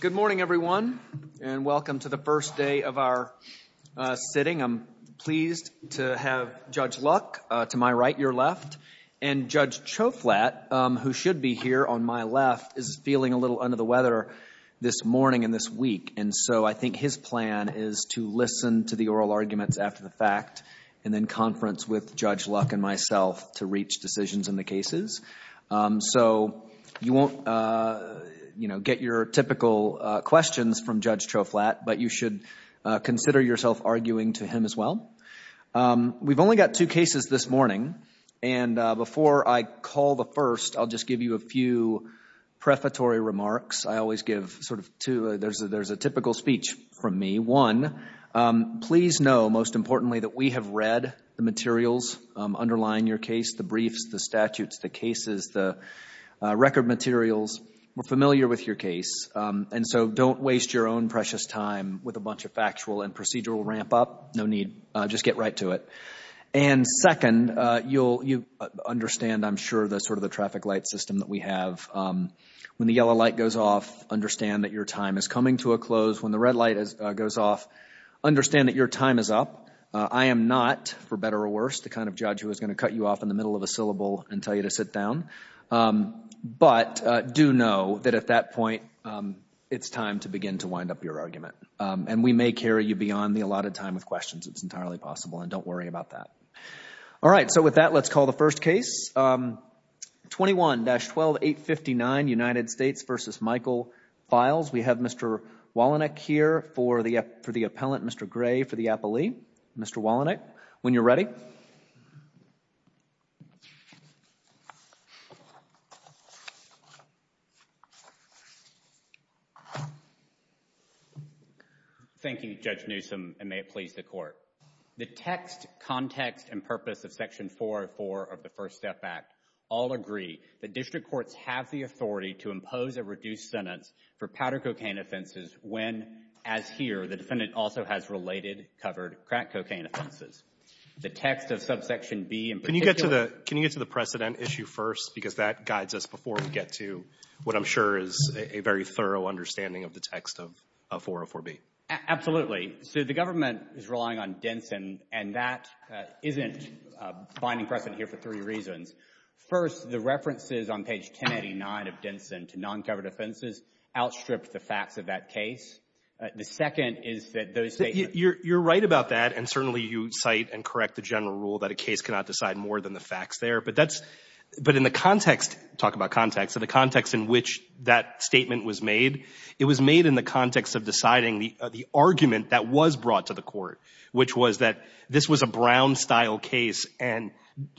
Good morning, everyone, and welcome to the first day of our sitting. I'm pleased to have Judge Luck to my right, your left, and Judge Choflat, who should be here on my left, is feeling a little under the weather this morning and this week, and so I think his plan is to listen to the oral arguments after the fact and then conference with Judge Luck and myself to reach decisions in the cases. So you won't, you know, get your typical questions from Judge Choflat, but you should consider yourself arguing to him as well. We've only got two cases this morning, and before I call the first, I'll just give you a few prefatory remarks. I always give sort of two. There's a typical speech from me. One, please know, most importantly, that we have read the materials underlying your case, the briefs, the statutes, the cases, the record materials. We're familiar with your case, and so don't waste your own precious time with a bunch of factual and procedural ramp-up. No need. Just get right to it. And second, you'll understand, I'm sure, sort of the traffic light system that we have. When the yellow light goes off, understand that your time is coming to a close. When the red light goes off, understand that your time is up. I am not, for better or worse, the kind of judge who is going to cut you off in the middle of a syllable and tell you to sit down. But do know that at that point, it's time to begin to wind up your argument, and we may carry you beyond the allotted time with questions. It's entirely possible, and don't worry about that. All right, so with that, let's call the first case. 21-12859, United States v. Michael Files. We have Mr. Wallenegg here for the appellant, Mr. Gray for the appellee. Mr. Wallenegg, when you're ready. Thank you, Judge Newsom, and may it please the Court. The text, context, and purpose of Section 404 of the First Step Act all agree that district courts have the authority to impose a reduced sentence for powder cocaine offenses when, as here, the defendant also has related covered crack cocaine offenses. The text of subsection B in particular— Can you get to the precedent issue first? Because that guides us before we get to what I'm sure is a very thorough understanding of the text of 404B. Absolutely. So the government is relying on Denson, and that isn't finding precedent here for three reasons. First, the references on page 1089 of Denson to non-covered offenses outstripped the facts of that case. The second is that those statements— You're right about that, and certainly you cite and correct the general rule that a case cannot decide more than the facts there. But in the context—talk about context—in the context in which that statement was made, it was made in the context of deciding the argument that was brought to the Court, which was that this was a Brown-style case, and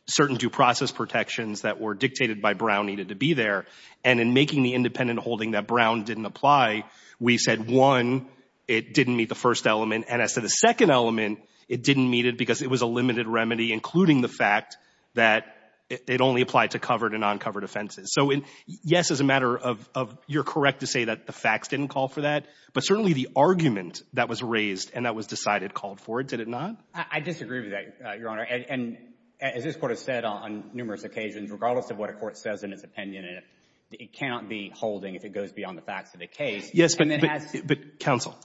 certain due process protections that were dictated by Brown needed to be there. And in making the independent holding that Brown didn't apply, we said, one, it didn't meet the first element, and as to the second element, it didn't meet it because it was a limited remedy, including the fact that it only applied to covered and non-covered offenses. So yes, as a matter of—you're correct to say that the facts didn't call for that, but certainly the argument that was raised and that was decided called for it, did it not? I disagree with that, Your Honor. And as this Court has said on numerous occasions, regardless of what a court says in its opinion, it cannot be holding if it goes beyond the facts of the case. Yes, but counsel,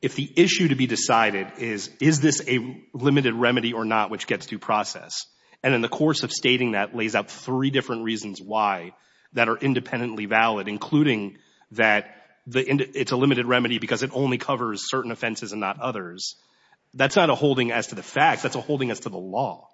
if the issue to be decided is, is this a limited remedy or not which gets due process, and in the course of stating that lays out three different reasons why that are independently valid, including that it's a limited remedy because it only covers certain offenses and not others, that's not a holding as to the facts. That's a holding as to the law.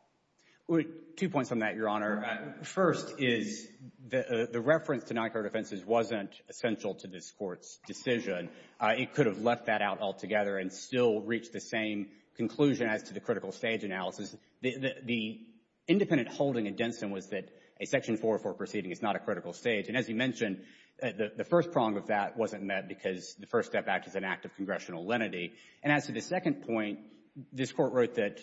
Two points on that, Your Honor. First is the reference to non-covered offenses wasn't essential to this Court's decision. It could have left that out altogether and still reached the same conclusion as to the critical stage analysis. The independent holding in Denson was that a Section 404 proceeding is not a critical stage. And as you mentioned, the first prong of that wasn't met because the First Step Act is an act of congressional lenity. And as to the second point, this Court wrote that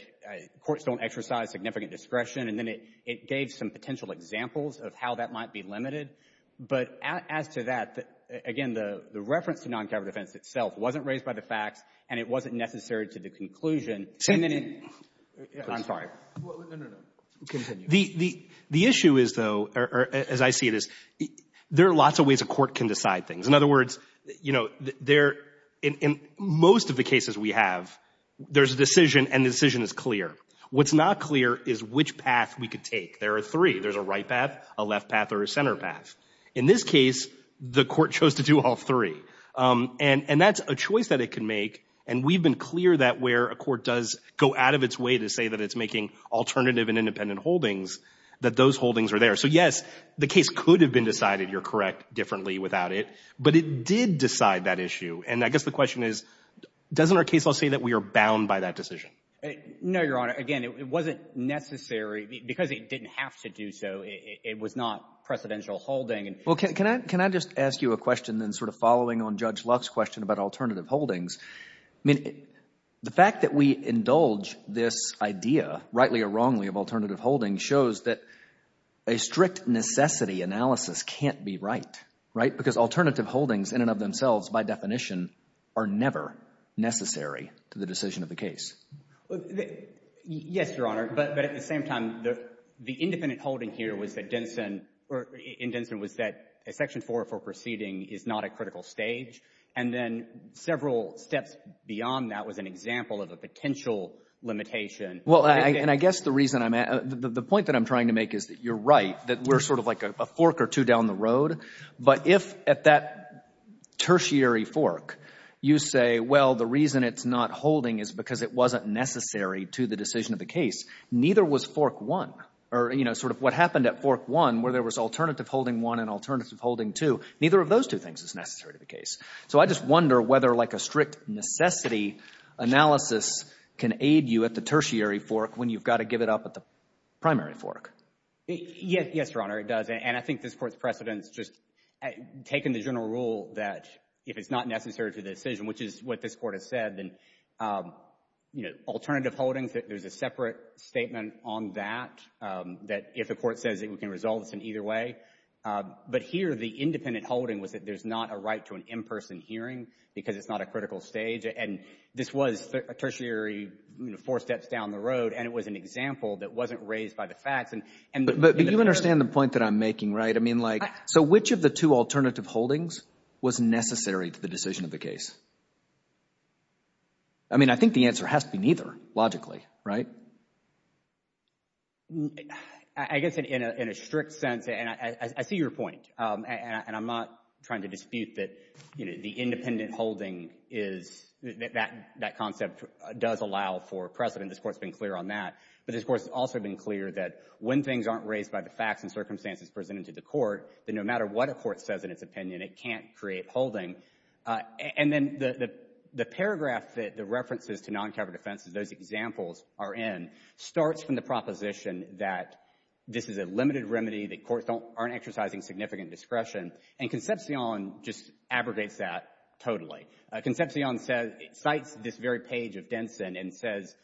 courts don't exercise significant discretion, and then it gave some potential examples of how that might be limited. But as to that, again, the reference to non-covered offense itself wasn't raised by the facts, and it wasn't necessary to the conclusion. Send it in. I'm sorry. No, no, no. Continue. The issue is, though, as I see it, is there are lots of ways a court can decide things. In other words, you know, in most of the cases we have, there's a decision and the decision is clear. What's not clear is which path we could take. There are three. There's a right path, a left path, or a center path. In this case, the court chose to do all three. And that's a choice that it can make, and we've been clear that where a court does go out of its way to say that it's making alternative and independent holdings, that those holdings are there. So, yes, the case could have been decided, you're correct, differently without it, but it did decide that issue. And I guess the question is, doesn't our case law say that we are bound by that decision? No, Your Honor. Again, it wasn't necessary because it didn't have to do so. It was not precedential holding. Well, can I just ask you a question then sort of following on Judge Luck's question about alternative holdings? I mean, the fact that we indulge this idea, rightly or wrongly, of alternative holding shows that a strict necessity analysis can't be right, right? Because alternative holdings in and of themselves, by definition, are never necessary to the decision of the case. Yes, Your Honor, but at the same time, the independent holding here was that a Section 404 proceeding is not a critical stage. And then several steps beyond that was an example of a potential limitation. Well, and I guess the reason I'm — the point that I'm trying to make is that you're right, that we're sort of like a fork or two down the road. But if at that tertiary fork you say, well, the reason it's not holding is because it wasn't necessary to the decision of the case, neither was Fork 1, or, you know, sort of what happened at Fork 1 where there was alternative holding 1 and alternative holding 2. Neither of those two things is necessary to the case. So I just wonder whether like a strict necessity analysis can aid you at the tertiary fork when you've got to give it up at the primary fork. Yes, Your Honor, it does. And I think this Court's precedent is just taking the general rule that if it's not necessary to the decision, which is what this Court has said, then, you know, if the Court says it can resolve this in either way. But here the independent holding was that there's not a right to an in-person hearing because it's not a critical stage. And this was a tertiary, you know, four steps down the road, and it was an example that wasn't raised by the facts. But you understand the point that I'm making, right? I mean, like, so which of the two alternative holdings was necessary to the decision of the case? I mean, I think the answer has to be neither, logically, right? I guess in a strict sense, and I see your point, and I'm not trying to dispute that, you know, the independent holding is that concept does allow for precedent. This Court's been clear on that. But this Court's also been clear that when things aren't raised by the facts and circumstances presented to the Court, that no matter what a court says in its opinion, it can't create holding. And then the paragraph that the references to noncovered offenses, those examples are in, starts from the proposition that this is a limited remedy, that courts aren't exercising significant discretion. And Concepcion just abrogates that totally. Concepcion cites this very page of Denson and says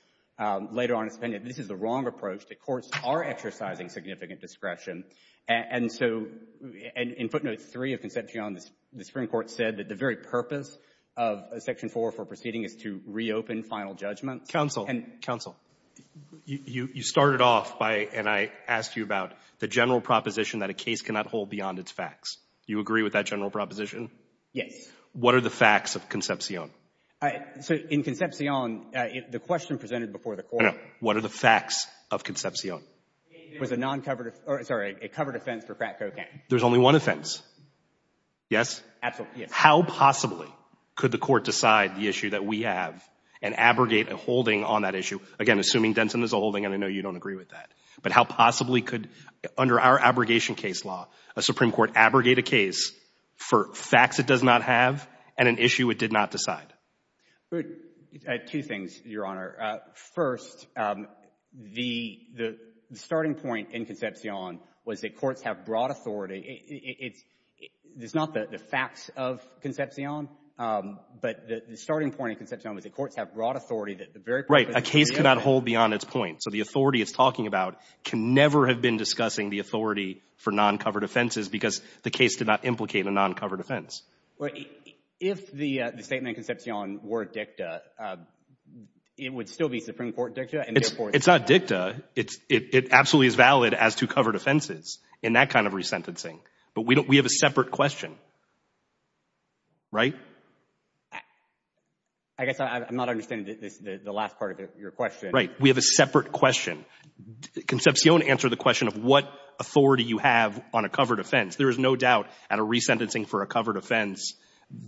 later on in his opinion, this is the wrong approach, that courts are exercising significant discretion. And so in footnotes 3 of Concepcion, the Supreme Court said that the very purpose of Section 4 for proceeding is to reopen final judgments. Counsel. You started off by, and I asked you about, the general proposition that a case cannot hold beyond its facts. Do you agree with that general proposition? Yes. What are the facts of Concepcion? So in Concepcion, the question presented before the Court. I know. What are the facts of Concepcion? It was a noncovered, sorry, a covered offense for crack cocaine. There's only one offense. Yes? Absolutely, yes. How possibly could the Court decide the issue that we have and abrogate a holding on that issue? Again, assuming Denson is a holding, and I know you don't agree with that. But how possibly could, under our abrogation case law, a Supreme Court abrogate a case for facts it does not have and an issue it did not decide? Two things, Your Honor. First, the starting point in Concepcion was that courts have broad authority. It's not the facts of Concepcion, but the starting point in Concepcion was that courts have broad authority. Right. A case cannot hold beyond its point. So the authority it's talking about can never have been discussing the authority for noncovered offenses because the case did not implicate a noncovered offense. If the statement in Concepcion were dicta, it would still be Supreme Court dicta? It's not dicta. It absolutely is valid as to covered offenses in that kind of resentencing. But we have a separate question. Right? I guess I'm not understanding the last part of your question. Right. We have a separate question. Concepcion answered the question of what authority you have on a covered offense. There is no doubt at a resentencing for a covered offense,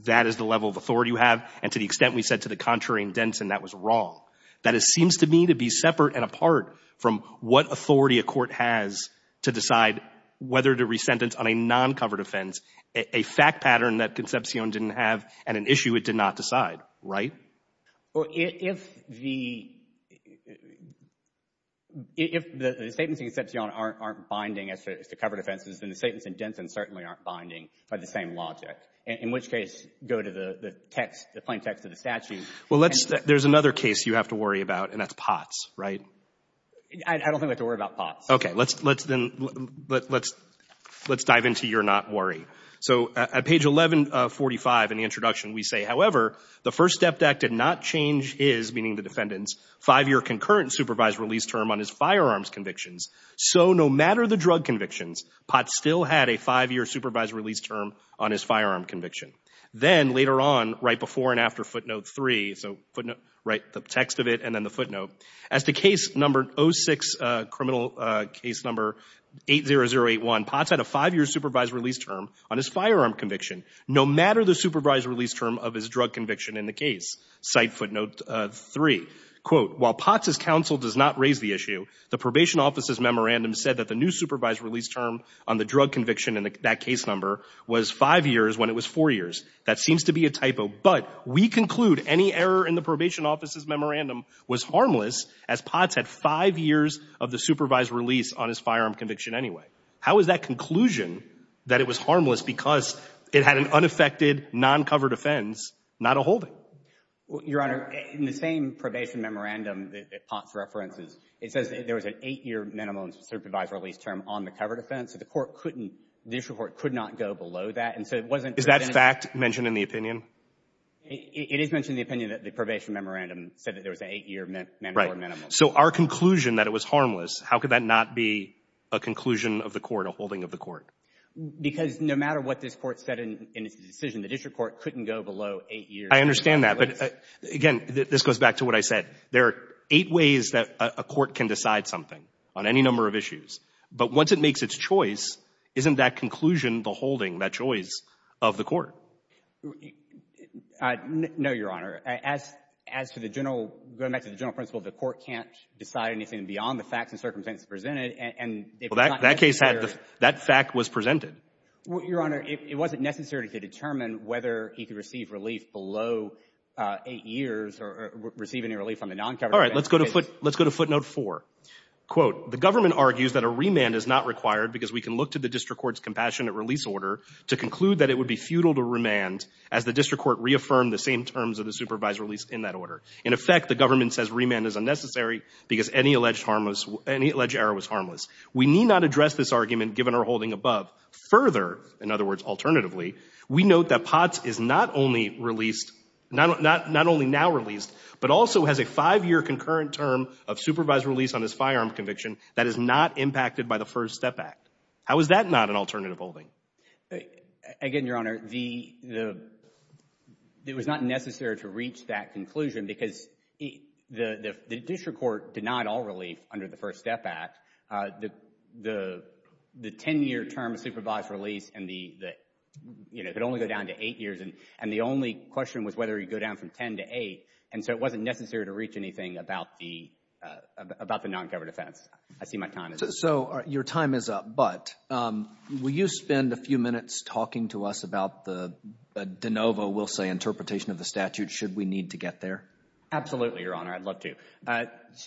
that is the level of authority you have. And to the extent we said to the contrary in Denson, that was wrong. That seems to me to be separate and apart from what authority a court has to decide whether to resentence on a noncovered offense, a fact pattern that Concepcion didn't have and an issue it did not decide. Right? Well, if the — if the statements in Concepcion aren't binding as to covered offenses, then the statements in Denson certainly aren't binding by the same logic, in which case go to the text, the plain text of the statute. Well, let's — there's another case you have to worry about, and that's Potts. Right? I don't think we have to worry about Potts. Okay. Let's then — let's dive into your not worry. So, at page 1145 in the introduction, we say, however, the First Step Act did not change his, meaning the defendant's, five-year concurrent supervised release term on his firearms convictions. So, no matter the drug convictions, Potts still had a five-year supervised release term on his firearm conviction. Then, later on, right before and after footnote three, so footnote — right, the text of it and then the footnote, as to case number — 06, criminal case number 80081, Potts had a five-year supervised release term on his firearm conviction, no matter the supervised release term of his drug conviction in the case. Cite footnote three. Quote, while Potts' counsel does not raise the issue, the probation office's memorandum said that the new supervised release term on the drug conviction in that case number was five years when it was four years. That seems to be a typo. But we conclude any error in the probation office's memorandum was harmless, as Potts had five years of the supervised release on his firearm conviction anyway. How is that conclusion that it was harmless because it had an unaffected, noncovered offense, not a holding? Your Honor, in the same probation memorandum that Potts references, it says there was an eight-year minimum supervised release term on the covered offense. So the court couldn't — the district court could not go below that. And so it wasn't — Is that fact mentioned in the opinion? It is mentioned in the opinion that the probation memorandum said that there was an eight-year minimum. So our conclusion that it was harmless, how could that not be a conclusion of the court, a holding of the court? Because no matter what this court said in its decision, the district court couldn't go below eight years. I understand that. But, again, this goes back to what I said. There are eight ways that a court can decide something on any number of issues. But once it makes its choice, isn't that conclusion, the holding, that choice of the court? No, Your Honor. As to the general — going back to the general principle, the court can't decide anything beyond the facts and circumstances presented. And if it's not necessary — Well, that case had — that fact was presented. Your Honor, it wasn't necessary to determine whether he could receive relief below eight years or receive any relief on the noncovered offense. All right. Let's go to footnote 4. Quote, The government argues that a remand is not required because we can look to the district court's compassionate release order to conclude that it would be futile to remand as the district court reaffirmed the same terms of the supervised release in that order. In effect, the government says remand is unnecessary because any alleged harmless — any alleged error was harmless. We need not address this argument, given our holding above. Further, in other words, alternatively, we note that Potts is not only released — not only now released, but also has a five-year concurrent term of supervised release on his firearm conviction that is not impacted by the First Step Act. How is that not an alternative holding? Again, Your Honor, the — it was not necessary to reach that conclusion because the district court denied all relief under the First Step Act. The 10-year term of supervised release and the — you know, it could only go down to eight years. And the only question was whether he'd go down from 10 to eight. And so it wasn't necessary to reach anything about the — about the non-governor defense. I see my time is up. So your time is up, but will you spend a few minutes talking to us about the de novo, we'll say, interpretation of the statute? Should we need to get there? Absolutely, Your Honor. I'd love to.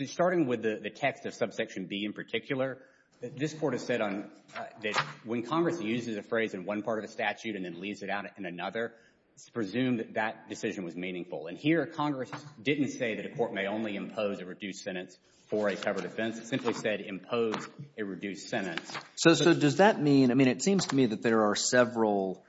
Starting with the text of subsection B in particular, this Court has said on — that when Congress uses a phrase in one part of a statute and then leaves it out in another, it's presumed that that decision was meaningful. And here Congress didn't say that a court may only impose a reduced sentence for a covered offense. It simply said impose a reduced sentence. So does that mean — I mean, it seems to me that there are several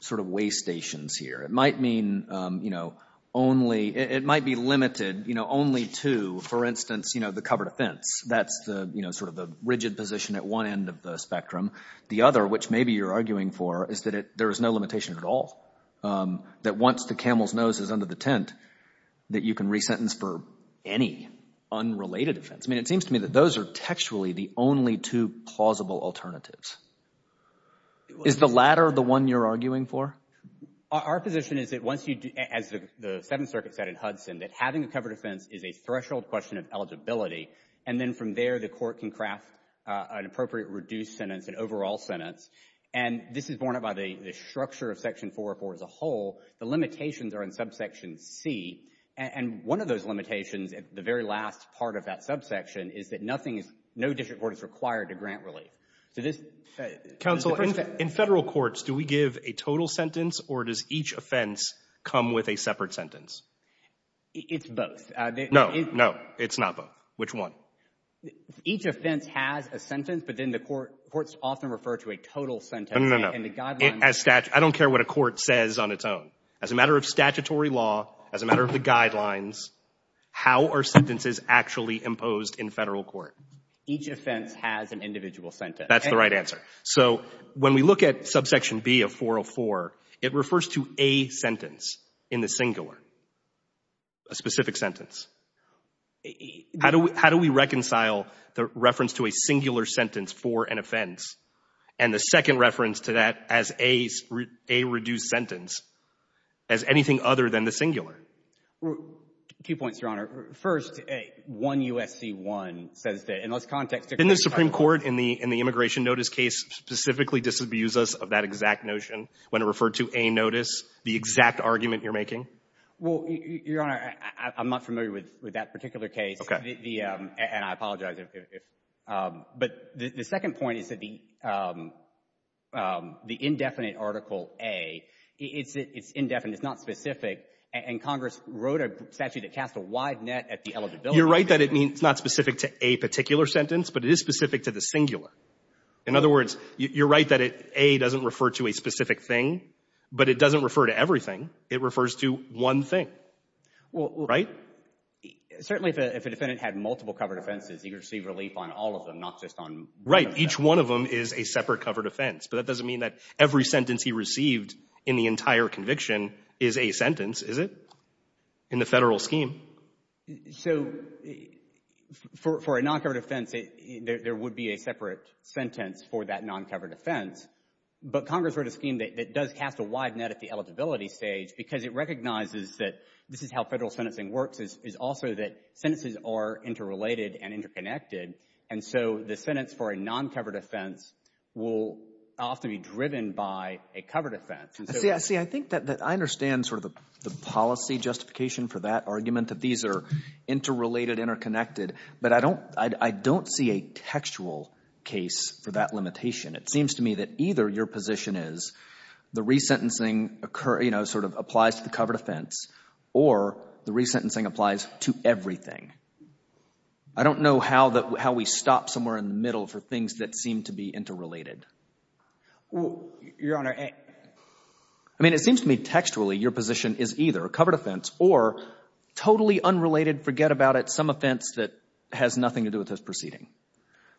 sort of waystations here. It might mean, you know, only — it might be limited, you know, only to, for instance, you know, the covered offense. That's the — you know, sort of the rigid position at one end of the spectrum. The other, which maybe you're arguing for, is that it — there is no limitation at all. That once the camel's nose is under the tent, that you can resentence for any unrelated offense. I mean, it seems to me that those are textually the only two plausible alternatives. Is the latter the one you're arguing for? Our position is that once you do — as the Seventh Circuit said in Hudson, that having a covered offense is a threshold question of eligibility, and then from there the Court can craft an appropriate reduced sentence, an overall sentence. And this is borne out by the structure of Section 404 as a whole. The limitations are in Subsection C. And one of those limitations at the very last part of that subsection is that nothing is — no district court is required to grant relief. So this — Counsel, in Federal courts, do we give a total sentence, or does each offense come with a separate sentence? It's both. No, no, it's not both. Which one? Each offense has a sentence, but then the courts often refer to a total sentence. No, no, no. And the guidelines — I don't care what a court says on its own. As a matter of statutory law, as a matter of the guidelines, how are sentences actually imposed in Federal court? Each offense has an individual sentence. That's the right answer. So when we look at Subsection B of 404, it refers to a sentence in the singular, a specific sentence. How do we reconcile the reference to a singular sentence for an offense and the second reference to that as a reduced sentence as anything other than the singular? Two points, Your Honor. First, 1 U.S.C. 1 says that, in this context — Didn't the Supreme Court in the immigration notice case specifically disabuse us of that exact notion when it referred to a notice, the exact argument you're making? Well, Your Honor, I'm not familiar with that particular case. Okay. And I apologize if — but the second point is that the indefinite article A, it's indefinite. It's not specific. And Congress wrote a statute that cast a wide net at the eligibility. You're right that it means it's not specific to a particular sentence, but it is specific to the singular. In other words, you're right that A doesn't refer to a specific thing, but it doesn't refer to everything. It refers to one thing. Well — Right? Certainly, if a defendant had multiple covered offenses, he could receive relief on all of them, not just on — Right. Each one of them is a separate covered offense. But that doesn't mean that every sentence he received in the entire conviction is a sentence, is it, in the Federal scheme? So, for a non-covered offense, there would be a separate sentence for that non-covered offense. But Congress wrote a scheme that does cast a wide net at the eligibility stage because it recognizes that this is how Federal sentencing works, is also that sentences are interrelated and interconnected. And so the sentence for a non-covered offense will often be driven by a covered offense. See, I think that I understand sort of the policy justification for that argument, that these are interrelated, interconnected. But I don't see a textual case for that limitation. It seems to me that either your position is the resentencing, you know, sort of applies to the covered offense or the resentencing applies to everything. I don't know how we stop somewhere in the middle for things that seem to be interrelated. Well, Your Honor — I mean, it seems to me textually your position is either a covered offense or totally unrelated, forget about it, some offense that has nothing to do with this proceeding.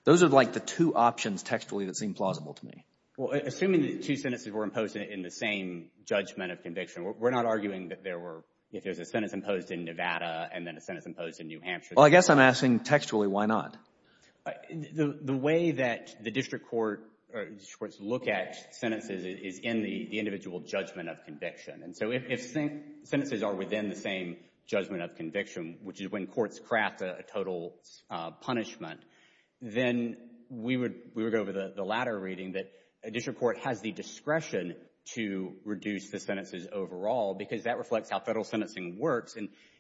Those are like the two options textually that seem plausible to me. Well, assuming the two sentences were imposed in the same judgment of conviction, we're not arguing that there were — if there's a sentence imposed in Nevada and then a sentence imposed in New Hampshire — Well, I guess I'm asking textually why not. The way that the district court or district courts look at sentences is in the individual judgment of conviction. And so if sentences are within the same judgment of conviction, which is when courts craft a total punishment, then we would go over the latter reading, that a district court has the discretion to reduce the sentences overall because that reflects how Federal sentencing works.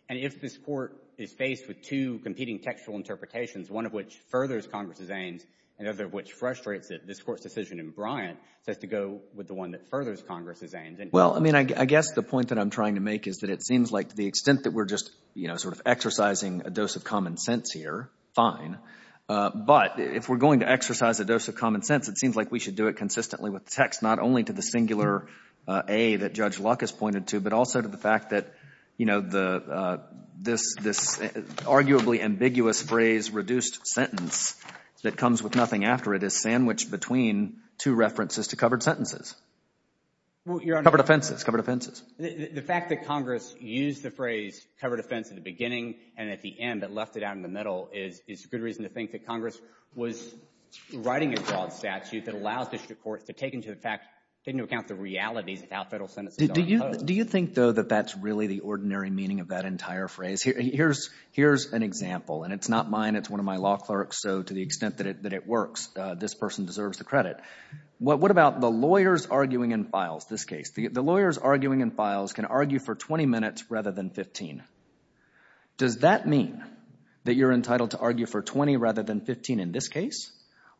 And if this Court is faced with two competing textual interpretations, one of which furthers Congress's aims and the other of which frustrates it, this Court's decision in Bryant says to go with the one that furthers Congress's aims. Well, I mean, I guess the point that I'm trying to make is that it seems like to the extent that we're just, you know, sort of exercising a dose of common sense here, fine. But if we're going to exercise a dose of common sense, it seems like we should do it consistently with the text, not only to the singular A that Judge Luck has pointed to, but also to the fact that, you know, this arguably ambiguous phrase reduced sentence that comes with nothing after it is sandwiched between two references to covered sentences. Covered offenses. Covered offenses. The fact that Congress used the phrase covered offense at the beginning and at the end but left it out in the middle is a good reason to think that Congress was writing a broad statute that allows district courts to take into account the realities of how Federal sentences are imposed. Do you think, though, that that's really the ordinary meaning of that entire phrase? Here's an example, and it's not mine. It's one of my law clerks, so to the extent that it works, this person deserves the credit. What about the lawyers arguing in files, this case? The lawyers arguing in files can argue for 20 minutes rather than 15. Does that mean that you're entitled to argue for 20 rather than 15 in this case?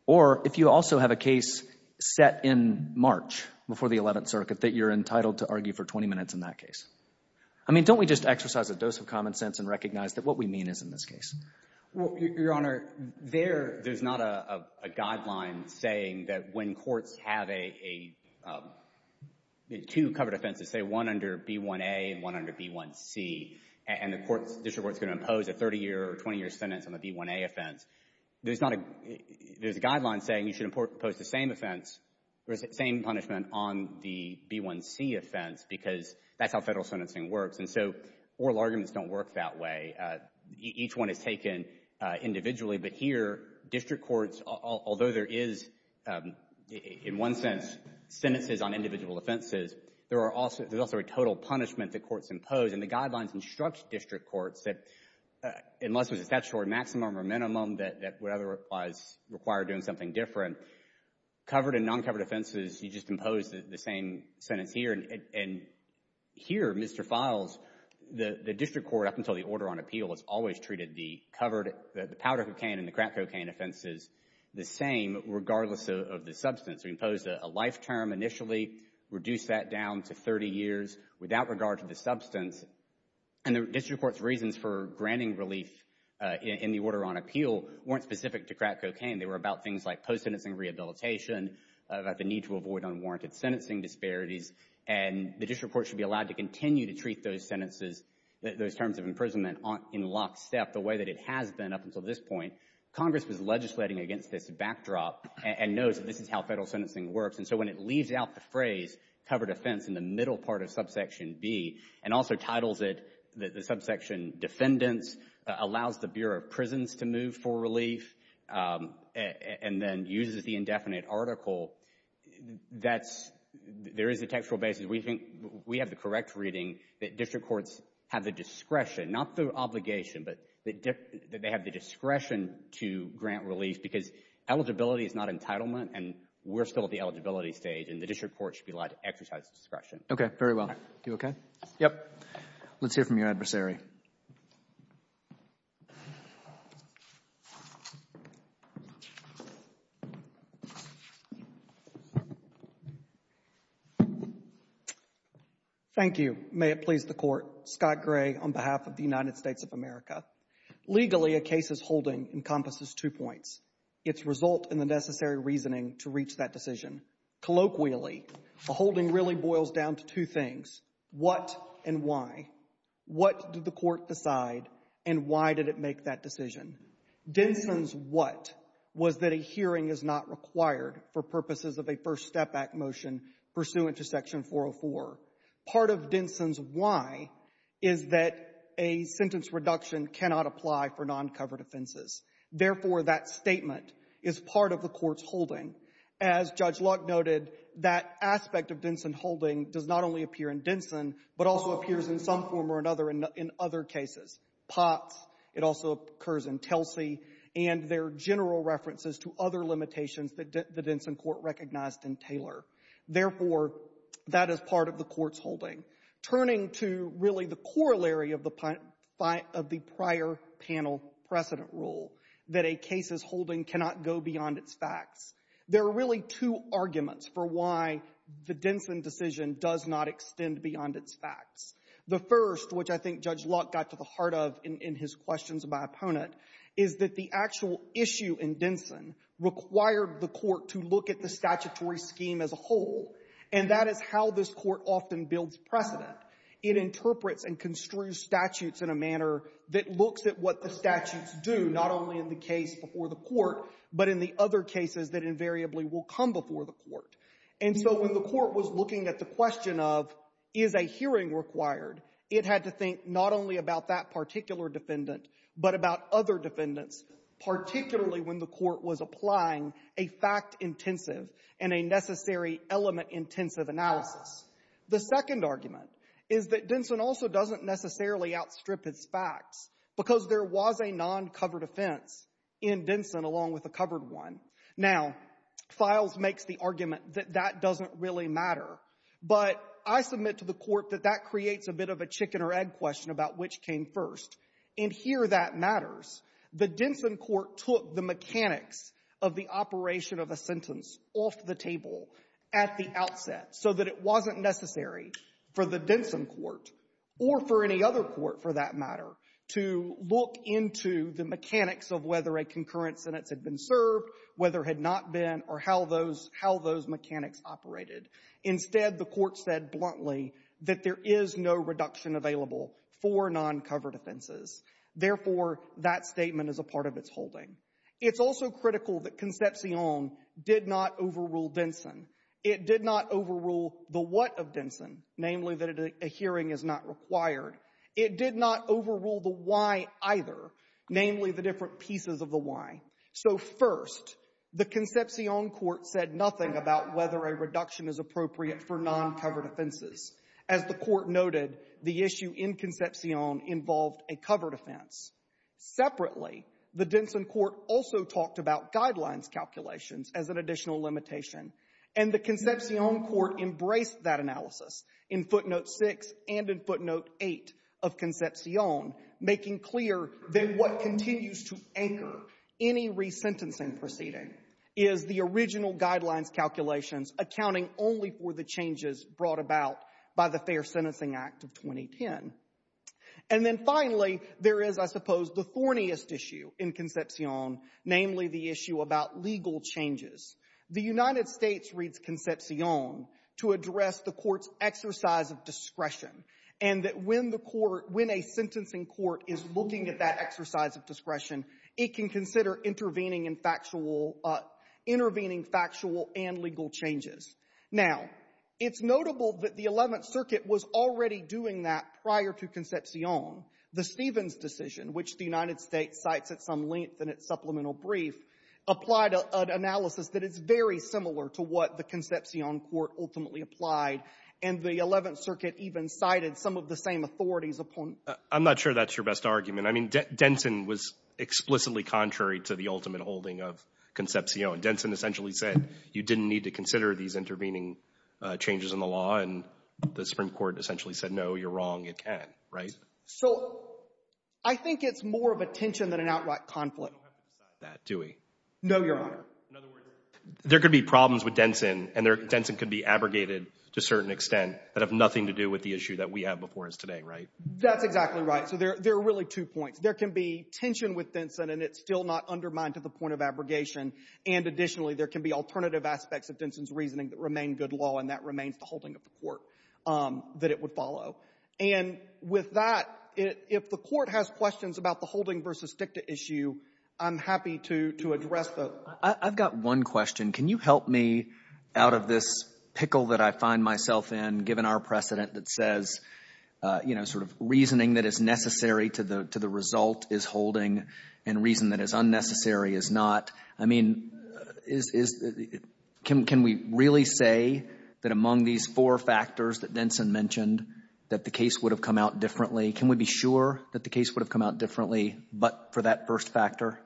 Or if you also have a case set in March before the 11th Circuit, that you're entitled to argue for 20 minutes in that case? I mean, don't we just exercise a dose of common sense and recognize that what we mean is in this case? Your Honor, there's not a guideline saying that when courts have two covered offenses, say one under B1A and one under B1C, and the district court is going to impose a 30-year or 20-year sentence on the B1A offense, there's a guideline saying you should impose the same offense, the same punishment on the B1C offense because that's how Federal sentencing works. And so oral arguments don't work that way. Each one is taken individually. But here, district courts, although there is, in one sense, sentences on individual offenses, there's also a total punishment that courts impose. And the guidelines instruct district courts that unless there's a statutory maximum or minimum that whatever applies require doing something different, covered and non-covered offenses, you just impose the same sentence here. And here, Mr. Files, the district court up until the order on appeal has always treated the covered, the powder cocaine and the crack cocaine offenses the same regardless of the substance. We imposed a life term initially, reduced that down to 30 years without regard to the substance. And the district court's reasons for granting relief in the order on appeal weren't specific to crack cocaine. They were about things like post-sentencing rehabilitation, about the need to avoid unwarranted sentencing disparities. And the district court should be allowed to continue to treat those sentences, those terms of imprisonment in lockstep the way that it has been up until this point. Congress was legislating against this backdrop and knows that this is how Federal sentencing works. And so when it leaves out the phrase covered offense in the middle part of subsection B and also titles it the subsection defendants, allows the Bureau of Prisons to move for relief, and then uses the indefinite article, that's, there is a textual basis. We think we have the correct reading that district courts have the discretion, not the obligation, but that they have the discretion to grant relief because eligibility is not entitlement and we're still at the eligibility stage and the district court should be allowed to exercise discretion. Okay, very well. You okay? Yep. Let's hear from your adversary. Thank you. Thank you. May it please the court. Scott Gray on behalf of the United States of America. Legally, a case's holding encompasses two points. It's result in the necessary reasoning to reach that decision. Colloquially, a holding really boils down to two things, what and why. What did the court decide and why did it make that decision? Denson's what was that a hearing is not required for purposes of a first step back motion pursuant to Section 404. Part of Denson's why is that a sentence reduction cannot apply for non-covered offenses. Therefore, that statement is part of the court's holding. As Judge Luck noted, that aspect of Denson holding does not only appear in Denson but also appears in some form or another in other cases. Potts, it also occurs in Telsey, and there are general references to other limitations that the Denson court recognized in Taylor. Therefore, that is part of the court's holding. Turning to really the corollary of the prior panel precedent rule, that a case's holding cannot go beyond its facts, there are really two arguments for why the Denson decision does not extend beyond its facts. The first, which I think Judge Luck got to the heart of in his questions of my opponent, is that the actual issue in Denson required the court to look at the statutory scheme as a whole, and that is how this court often builds precedent. It interprets and construes statutes in a manner that looks at what the statutes do, not only in the case before the court, but in the other cases that invariably will come before the court. And so when the court was looking at the question of is a hearing required, it had to think not only about that particular defendant but about other defendants, particularly when the court was applying a fact-intensive and a necessary element-intensive analysis. The second argument is that Denson also doesn't necessarily outstrip its facts because there was a non-covered offense in Denson along with a covered one. Now, Files makes the argument that that doesn't really matter, but I submit to the court that that creates a bit of a chicken-or-egg question about which came first. And here that matters. The Denson court took the mechanics of the operation of a sentence off the table at the outset so that it wasn't necessary for the Denson court or for any other court, for that matter, to look into the mechanics of whether a concurrent sentence had been served, whether it had not been, or how those mechanics operated. Instead, the court said bluntly that there is no reduction available for non-covered offenses. Therefore, that statement is a part of its holding. It's also critical that Concepcion did not overrule Denson. It did not overrule the what of Denson, namely that a hearing is not required. It did not overrule the why either, namely the different pieces of the why. So first, the Concepcion court said nothing about whether a reduction is appropriate for non-covered offenses. As the court noted, the issue in Concepcion involved a covered offense. Separately, the Denson court also talked about guidelines calculations as an additional limitation. And the Concepcion court embraced that analysis in footnote 6 and in footnote 8 of Concepcion, making clear that what continues to anchor any resentencing proceeding is the original guidelines calculations accounting only for the changes brought about by the Fair Sentencing Act of 2010. And then finally, there is, I suppose, the thorniest issue in Concepcion, namely the issue about legal changes. The United States reads Concepcion to address the court's exercise of discretion, and that when the court — when a sentencing court is looking at that exercise of discretion, it can consider intervening in factual — intervening factual and legal changes. Now, it's notable that the Eleventh Circuit was already doing that prior to Concepcion. The Stevens decision, which the United States cites at some length in its supplemental brief, applied an analysis that is very similar to what the Concepcion court ultimately applied. And the Eleventh Circuit even cited some of the same authorities upon — I'm not sure that's your best argument. I mean, Denson was explicitly contrary to the ultimate holding of Concepcion. Denson essentially said you didn't need to consider these intervening changes in the law. And the Supreme Court essentially said, no, you're wrong, it can't, right? So I think it's more of a tension than an outright conflict. You don't have to decide that, do we? No, Your Honor. In other words, there could be problems with Denson, and Denson could be abrogated to a certain extent that have nothing to do with the issue that we have before us today, right? That's exactly right. So there are really two points. There can be tension with Denson, and it's still not undermined to the point of abrogation. And additionally, there can be alternative aspects of Denson's reasoning that remain good law, and that remains the holding of the court that it would follow. And with that, if the Court has questions about the holding versus dicta issue, I'm happy to address those. I've got one question. Can you help me out of this pickle that I find myself in, given our precedent that says, you know, sort of reasoning that is necessary to the result is holding and reason that is unnecessary is not? I mean, can we really say that among these four factors that Denson mentioned that the case would have come out differently? Can we be sure that the case would have come out differently but for that first factor?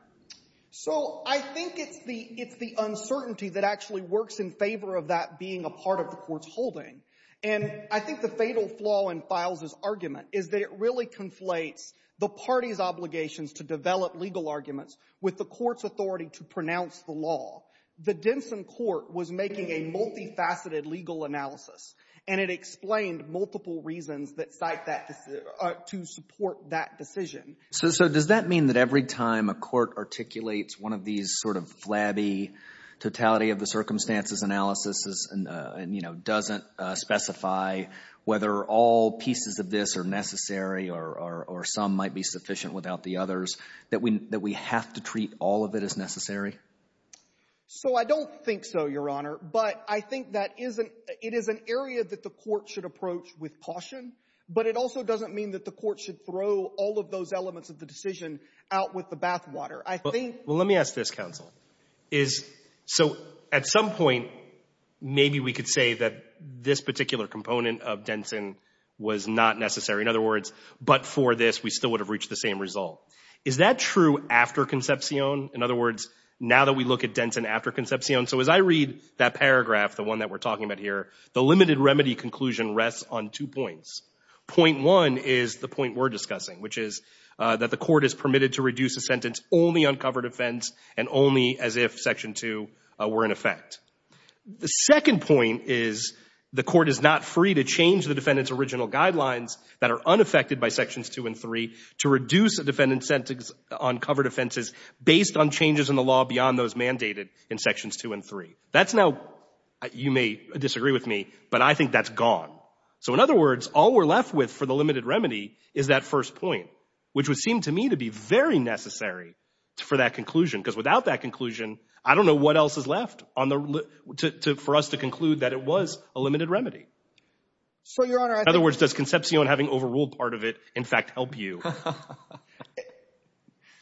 So I think it's the uncertainty that actually works in favor of that being a part of the court's holding. And I think the fatal flaw in Files' argument is that it really conflates the party's obligations to develop legal arguments with the court's authority to pronounce the law. The Denson court was making a multifaceted legal analysis, and it explained multiple reasons that cite that to support that decision. So does that mean that every time a court articulates one of these sort of flabby totality of the circumstances analysis and, you know, doesn't specify whether all pieces of this are necessary or some might be sufficient without the others, that we have to treat all of it as necessary? So I don't think so, Your Honor. But I think that it is an area that the court should approach with caution. But it also doesn't mean that the court should throw all of those elements of the decision out with the bathwater. I think — Well, let me ask this, counsel. Is — so at some point, maybe we could say that this particular component of Denson was not necessary. In other words, but for this, we still would have reached the same result. Is that true after Concepcion? In other words, now that we look at Denson after Concepcion — so as I read that paragraph, the one that we're talking about here, the limited remedy conclusion rests on two points. Point one is the point we're discussing, which is that the court is permitted to reduce a sentence only on covered offense and only as if Section 2 were in effect. The second point is the court is not free to change the defendant's original guidelines that are unaffected by Sections 2 and 3 to reduce a defendant's sentence on covered offenses based on changes in the law beyond those mandated in Sections 2 and 3. That's now — you may disagree with me, but I think that's gone. So in other words, all we're left with for the limited remedy is that first point, which would seem to me to be very necessary for that conclusion, because without that conclusion, I don't know what else is left on the — for us to conclude that it was a limited remedy. So, Your Honor, I think — In other words, does Concepcion having overruled part of it, in fact, help you?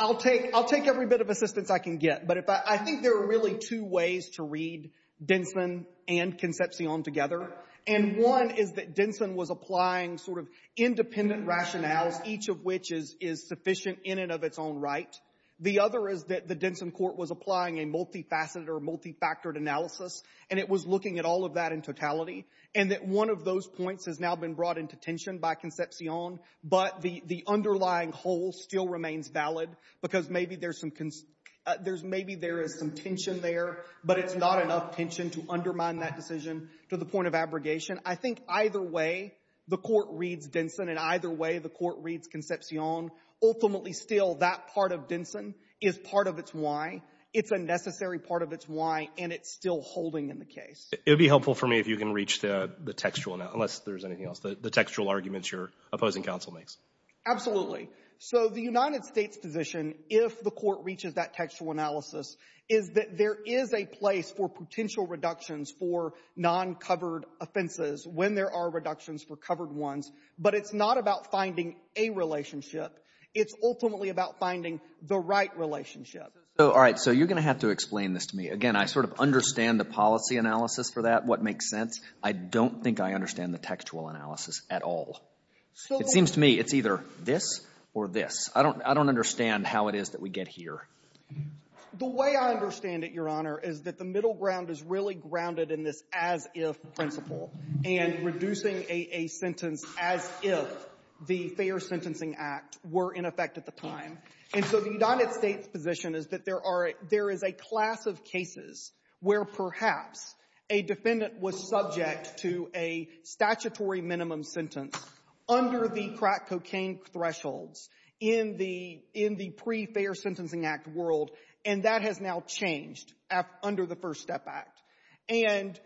I'll take every bit of assistance I can get. But I think there are really two ways to read Denson and Concepcion together. And one is that Denson was applying sort of independent rationales, each of which is sufficient in and of its own right. The other is that the Denson court was applying a multifaceted or multifactored analysis, and it was looking at all of that in totality, and that one of those points has now been brought into tension by Concepcion, but the underlying whole still remains valid because maybe there's some — there's — maybe there is some tension there, but it's not enough tension to undermine that decision to the point of abrogation. I think either way, the court reads Denson, and either way, the court reads Concepcion. Ultimately, still, that part of Denson is part of its why. It's a necessary part of its why, and it's still holding in the case. It would be helpful for me if you can reach the textual — unless there's anything else — the textual arguments your opposing counsel makes. Absolutely. So the United States position, if the court reaches that textual analysis, is that there is a place for potential reductions for non-covered offenses when there are reductions for covered ones, but it's not about finding a relationship. It's ultimately about finding the right relationship. All right. So you're going to have to explain this to me. Again, I sort of understand the policy analysis for that, what makes sense. I don't think I understand the textual analysis at all. It seems to me it's either this or this. I don't understand how it is that we get here. The way I understand it, Your Honor, is that the middle ground is really grounded in this as-if principle, and reducing a sentence as if the Fair Sentencing Act were in effect at the time. And so the United States position is that there are — there is a class of cases where perhaps a defendant was subject to a statutory minimum sentence under the crack cocaine thresholds in the pre-Fair Sentencing Act world, and that has now changed under the First Step Act. And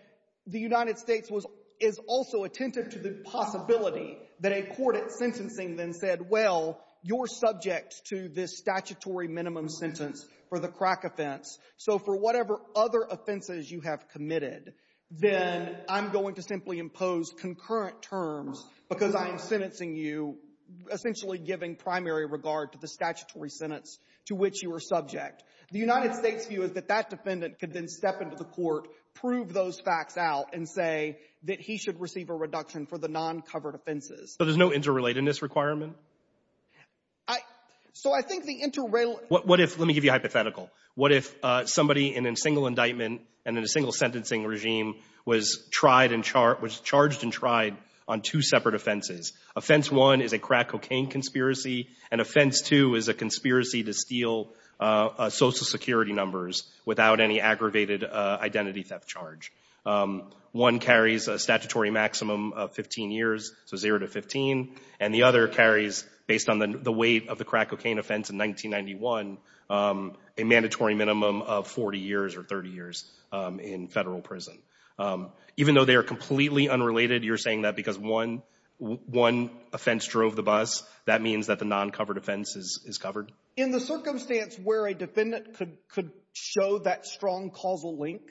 the United States was — is also attentive to the possibility that a court at sentencing then said, well, you're subject to this statutory minimum sentence for the crack offense. So for whatever other offenses you have committed, then I'm going to simply impose concurrent terms because I am sentencing you, essentially giving primary regard to the statutory sentence to which you were subject. The United States view is that that defendant could then step into the court, prove those facts out, and say that he should receive a reduction for the non-covered offenses. So there's no interrelatedness requirement? I — so I think the interrelated — what if — let me give you a hypothetical. What if somebody in a single indictment and in a single sentencing regime was tried and — was charged and tried on two separate offenses? Offense one is a crack cocaine conspiracy, and offense two is a conspiracy to steal Social Security numbers without any aggravated identity theft charge. One carries a statutory maximum of 15 years, so zero to 15, and the other carries, based on the weight of the crack cocaine offense in 1991, a mandatory minimum of 40 years or 30 years in Federal prison. Even though they are completely unrelated, you're saying that because one offense drove the bus, that means that the non-covered offense is covered? In the circumstance where a defendant could show that strong causal link,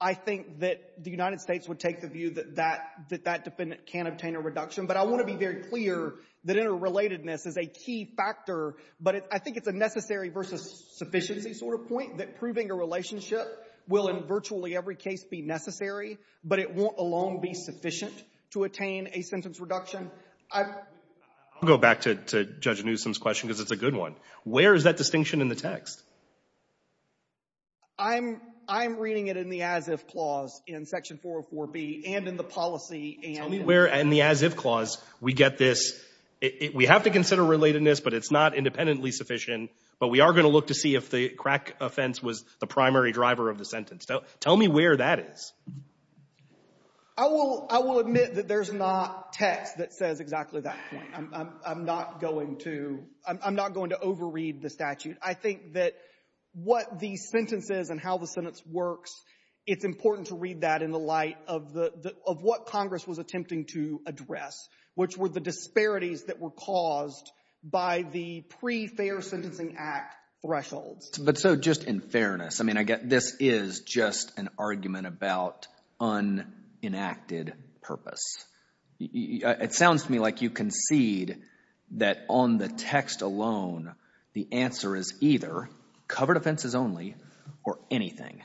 I think that the United States would take the view that that defendant can obtain a reduction, but I want to be very clear that interrelatedness is a key factor, but I think it's a necessary versus sufficiency sort of point, that proving a relationship will in virtually every case be necessary, but it won't alone be sufficient to attain a sentence reduction. I — I'll go back to Judge Newsom's question because it's a good one. Where is that distinction in the text? I'm — I'm reading it in the as-if clause in Section 404B and in the policy and — Tell me where in the as-if clause we get this, we have to consider relatedness, but it's not independently sufficient, but we are going to look to see if the crack offense was the primary driver of the sentence. Tell me where that is. I will — I will admit that there's not text that says exactly that point. I'm not going to — I'm not going to overread the statute. I think that what the sentence is and how the sentence works, it's important to read that in the light of the — of what Congress was attempting to address, which were the disparities that were caused by the pre-fair sentencing act thresholds. But so just in fairness, I mean, I get this is just an argument about unenacted purpose. It sounds to me like you concede that on the text alone, the answer is either covered offenses only or anything,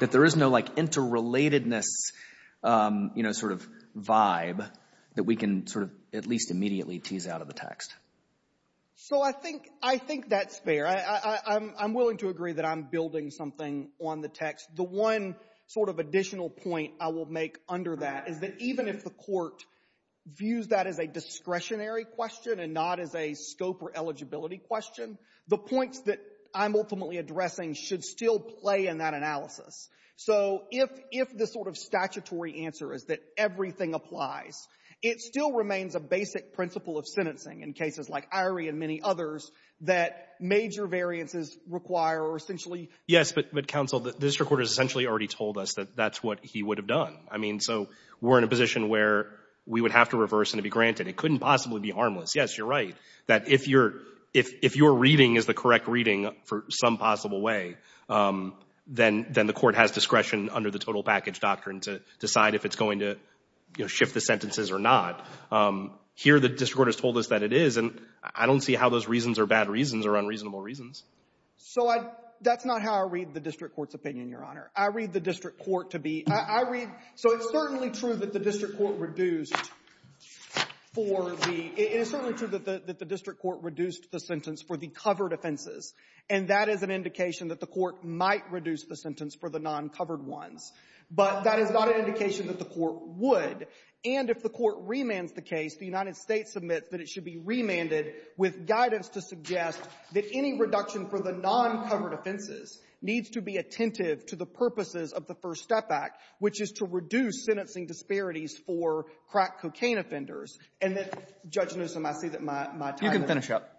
that there is no, like, interrelatedness, you know, sort of vibe that we can sort of at least immediately tease out of the text. So I think — I think that's fair. I'm willing to agree that I'm building something on the text. The one sort of additional point I will make under that is that even if the Court views that as a discretionary question and not as a scope or eligibility question, the points that I'm ultimately addressing should still play in that analysis. So if — if the sort of statutory answer is that everything applies, it still remains a basic principle of sentencing in cases like Irie and many others that major variances require or essentially — Yes, but, Counsel, the district court has essentially already told us that that's what he would have done. I mean, so we're in a position where we would have to reverse and to be granted. It couldn't possibly be harmless. Yes, you're right, that if you're — if your reading is the correct reading for some possible way, then the Court has discretion under the total package doctrine to decide if it's going to, you know, shift the sentences or not. Here the district court has told us that it is, and I don't see how those reasons are bad reasons or unreasonable reasons. So I — that's not how I read the district court's opinion, Your Honor. I read the district court to be — I read — so it's certainly true that the district court reduced for the — it is certainly true that the district court reduced the sentence for the covered offenses, and that is an indication that the court might reduce the sentence for the non-covered ones. But that is not an indication that the court would. And if the court remands the case, the United States admits that it should be remanded with guidance to suggest that any reduction for the non-covered offenses needs to be attentive to the purposes of the First Step Act, which is to reduce sentencing disparities for crack cocaine offenders. And that, Judge Newsom, I see that my time is up. You can finish up.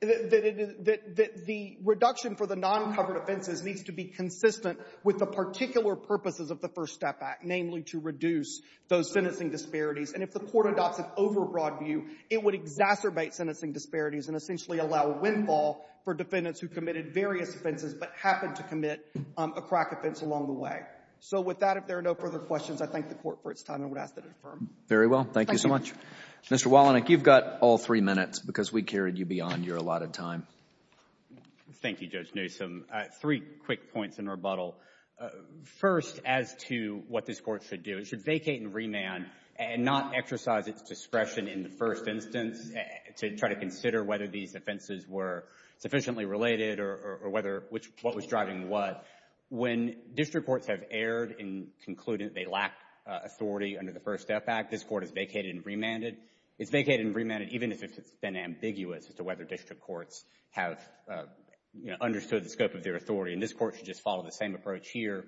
That the reduction for the non-covered offenses needs to be consistent with the particular purposes of the First Step Act, namely to reduce those sentencing disparities. And if the Court adopts an overbroad view, it would exacerbate sentencing disparities and essentially allow a windfall for defendants who committed various offenses but happened to commit a crack offense along the way. So with that, if there are no further questions, I thank the Court for its time. I would ask that it affirm. Very well. Thank you so much. Thank you. Mr. Wallenach, you've got all three minutes because we carried you beyond your allotted time. Thank you, Judge Newsom. Three quick points in rebuttal. First, as to what this Court should do, it should vacate and remand and not exercise its discretion in the first instance to try to consider whether these offenses were sufficiently related or whether what was driving what. When district courts have erred in concluding they lack authority under the First Step Act, this Court has vacated and remanded. It's vacated and remanded even if it's been ambiguous as to whether district courts have understood the scope of their authority. And this Court should just follow the same approach here.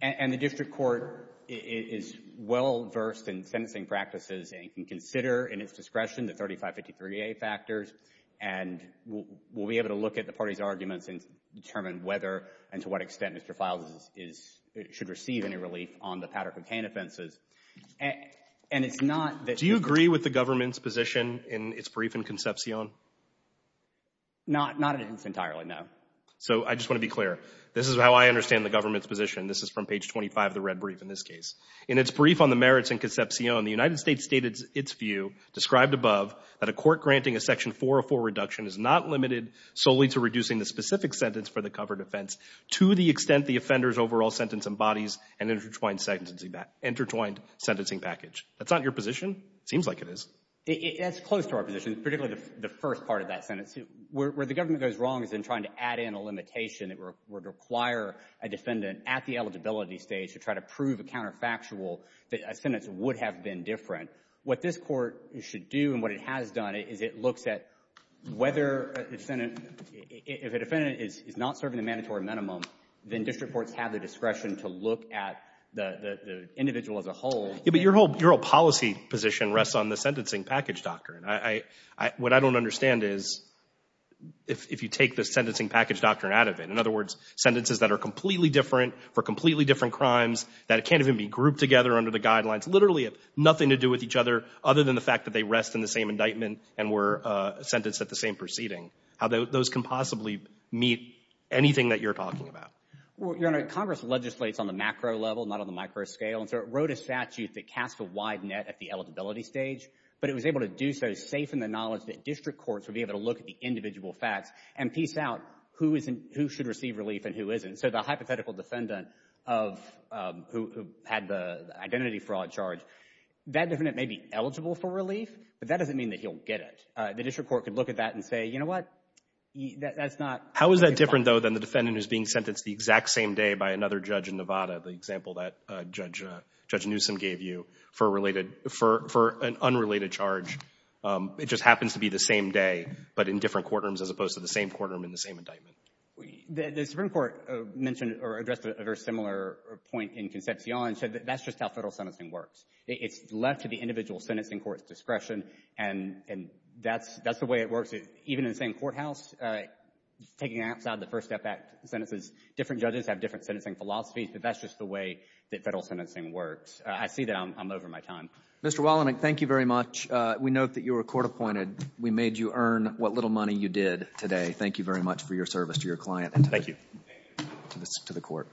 And the district court is well-versed in sentencing practices and can consider in its discretion the 3553A factors and will be able to look at the parties' arguments and determine whether and to what extent Mr. Files is – should receive any relief on the powder cocaine offenses. And it's not that – Do you agree with the government's position in its brief in Concepcion? Not – not entirely, no. So I just want to be clear. This is how I understand the government's position. This is from page 25 of the red brief in this case. In its brief on the merits in Concepcion, the United States stated its view, described above, that a court granting a section 404 reduction is not limited solely to reducing the specific sentence for the covered offense to the extent the offender's overall sentence embodies an intertwined sentencing – intertwined sentencing package. That's not your position? It seems like it is. That's close to our position, particularly the first part of that sentence. Where the government goes wrong is in trying to add in a limitation that would require a defendant at the eligibility stage to try to prove a counterfactual that a sentence would have been different. What this court should do and what it has done is it looks at whether a defendant – if a defendant is not serving a mandatory minimum, then district courts have the discretion to look at the individual as a whole. But your whole policy position rests on the sentencing package doctrine. What I don't understand is if you take the sentencing package doctrine out of it. In other words, sentences that are completely different for completely different crimes, that can't even be grouped together under the guidelines, literally have nothing to do with each other other than the fact that they rest in the same indictment and were sentenced at the same proceeding. How those can possibly meet anything that you're talking about. Well, Your Honor, Congress legislates on the macro level, not on the micro scale, and so it wrote a statute that cast a wide net at the eligibility stage, but it was able to do so safe in the knowledge that district courts would be able to look at the individual facts and piece out who should receive relief and who isn't. So the hypothetical defendant who had the identity fraud charge, that defendant may be eligible for relief, but that doesn't mean that he'll get it. The district court could look at that and say, you know what, that's not. How is that different, though, than the defendant who's being sentenced the exact same day by another judge in Nevada, the example that Judge Newsom gave you for an unrelated charge? It just happens to be the same day, but in different courtrooms as opposed to the same courtroom in the same indictment. The Supreme Court mentioned or addressed a very similar point in Concepcion and said that that's just how Federal sentencing works. It's left to the individual sentencing court's discretion, and that's the way it Even in the same courthouse, taking outside the First Step Act sentences, different judges have different sentencing philosophies, but that's just the way that Federal sentencing works. I see that I'm over my time. Mr. Wallenberg, thank you very much. We note that you were court appointed. We made you earn what little money you did today. Thank you very much for your service to your client and to the court.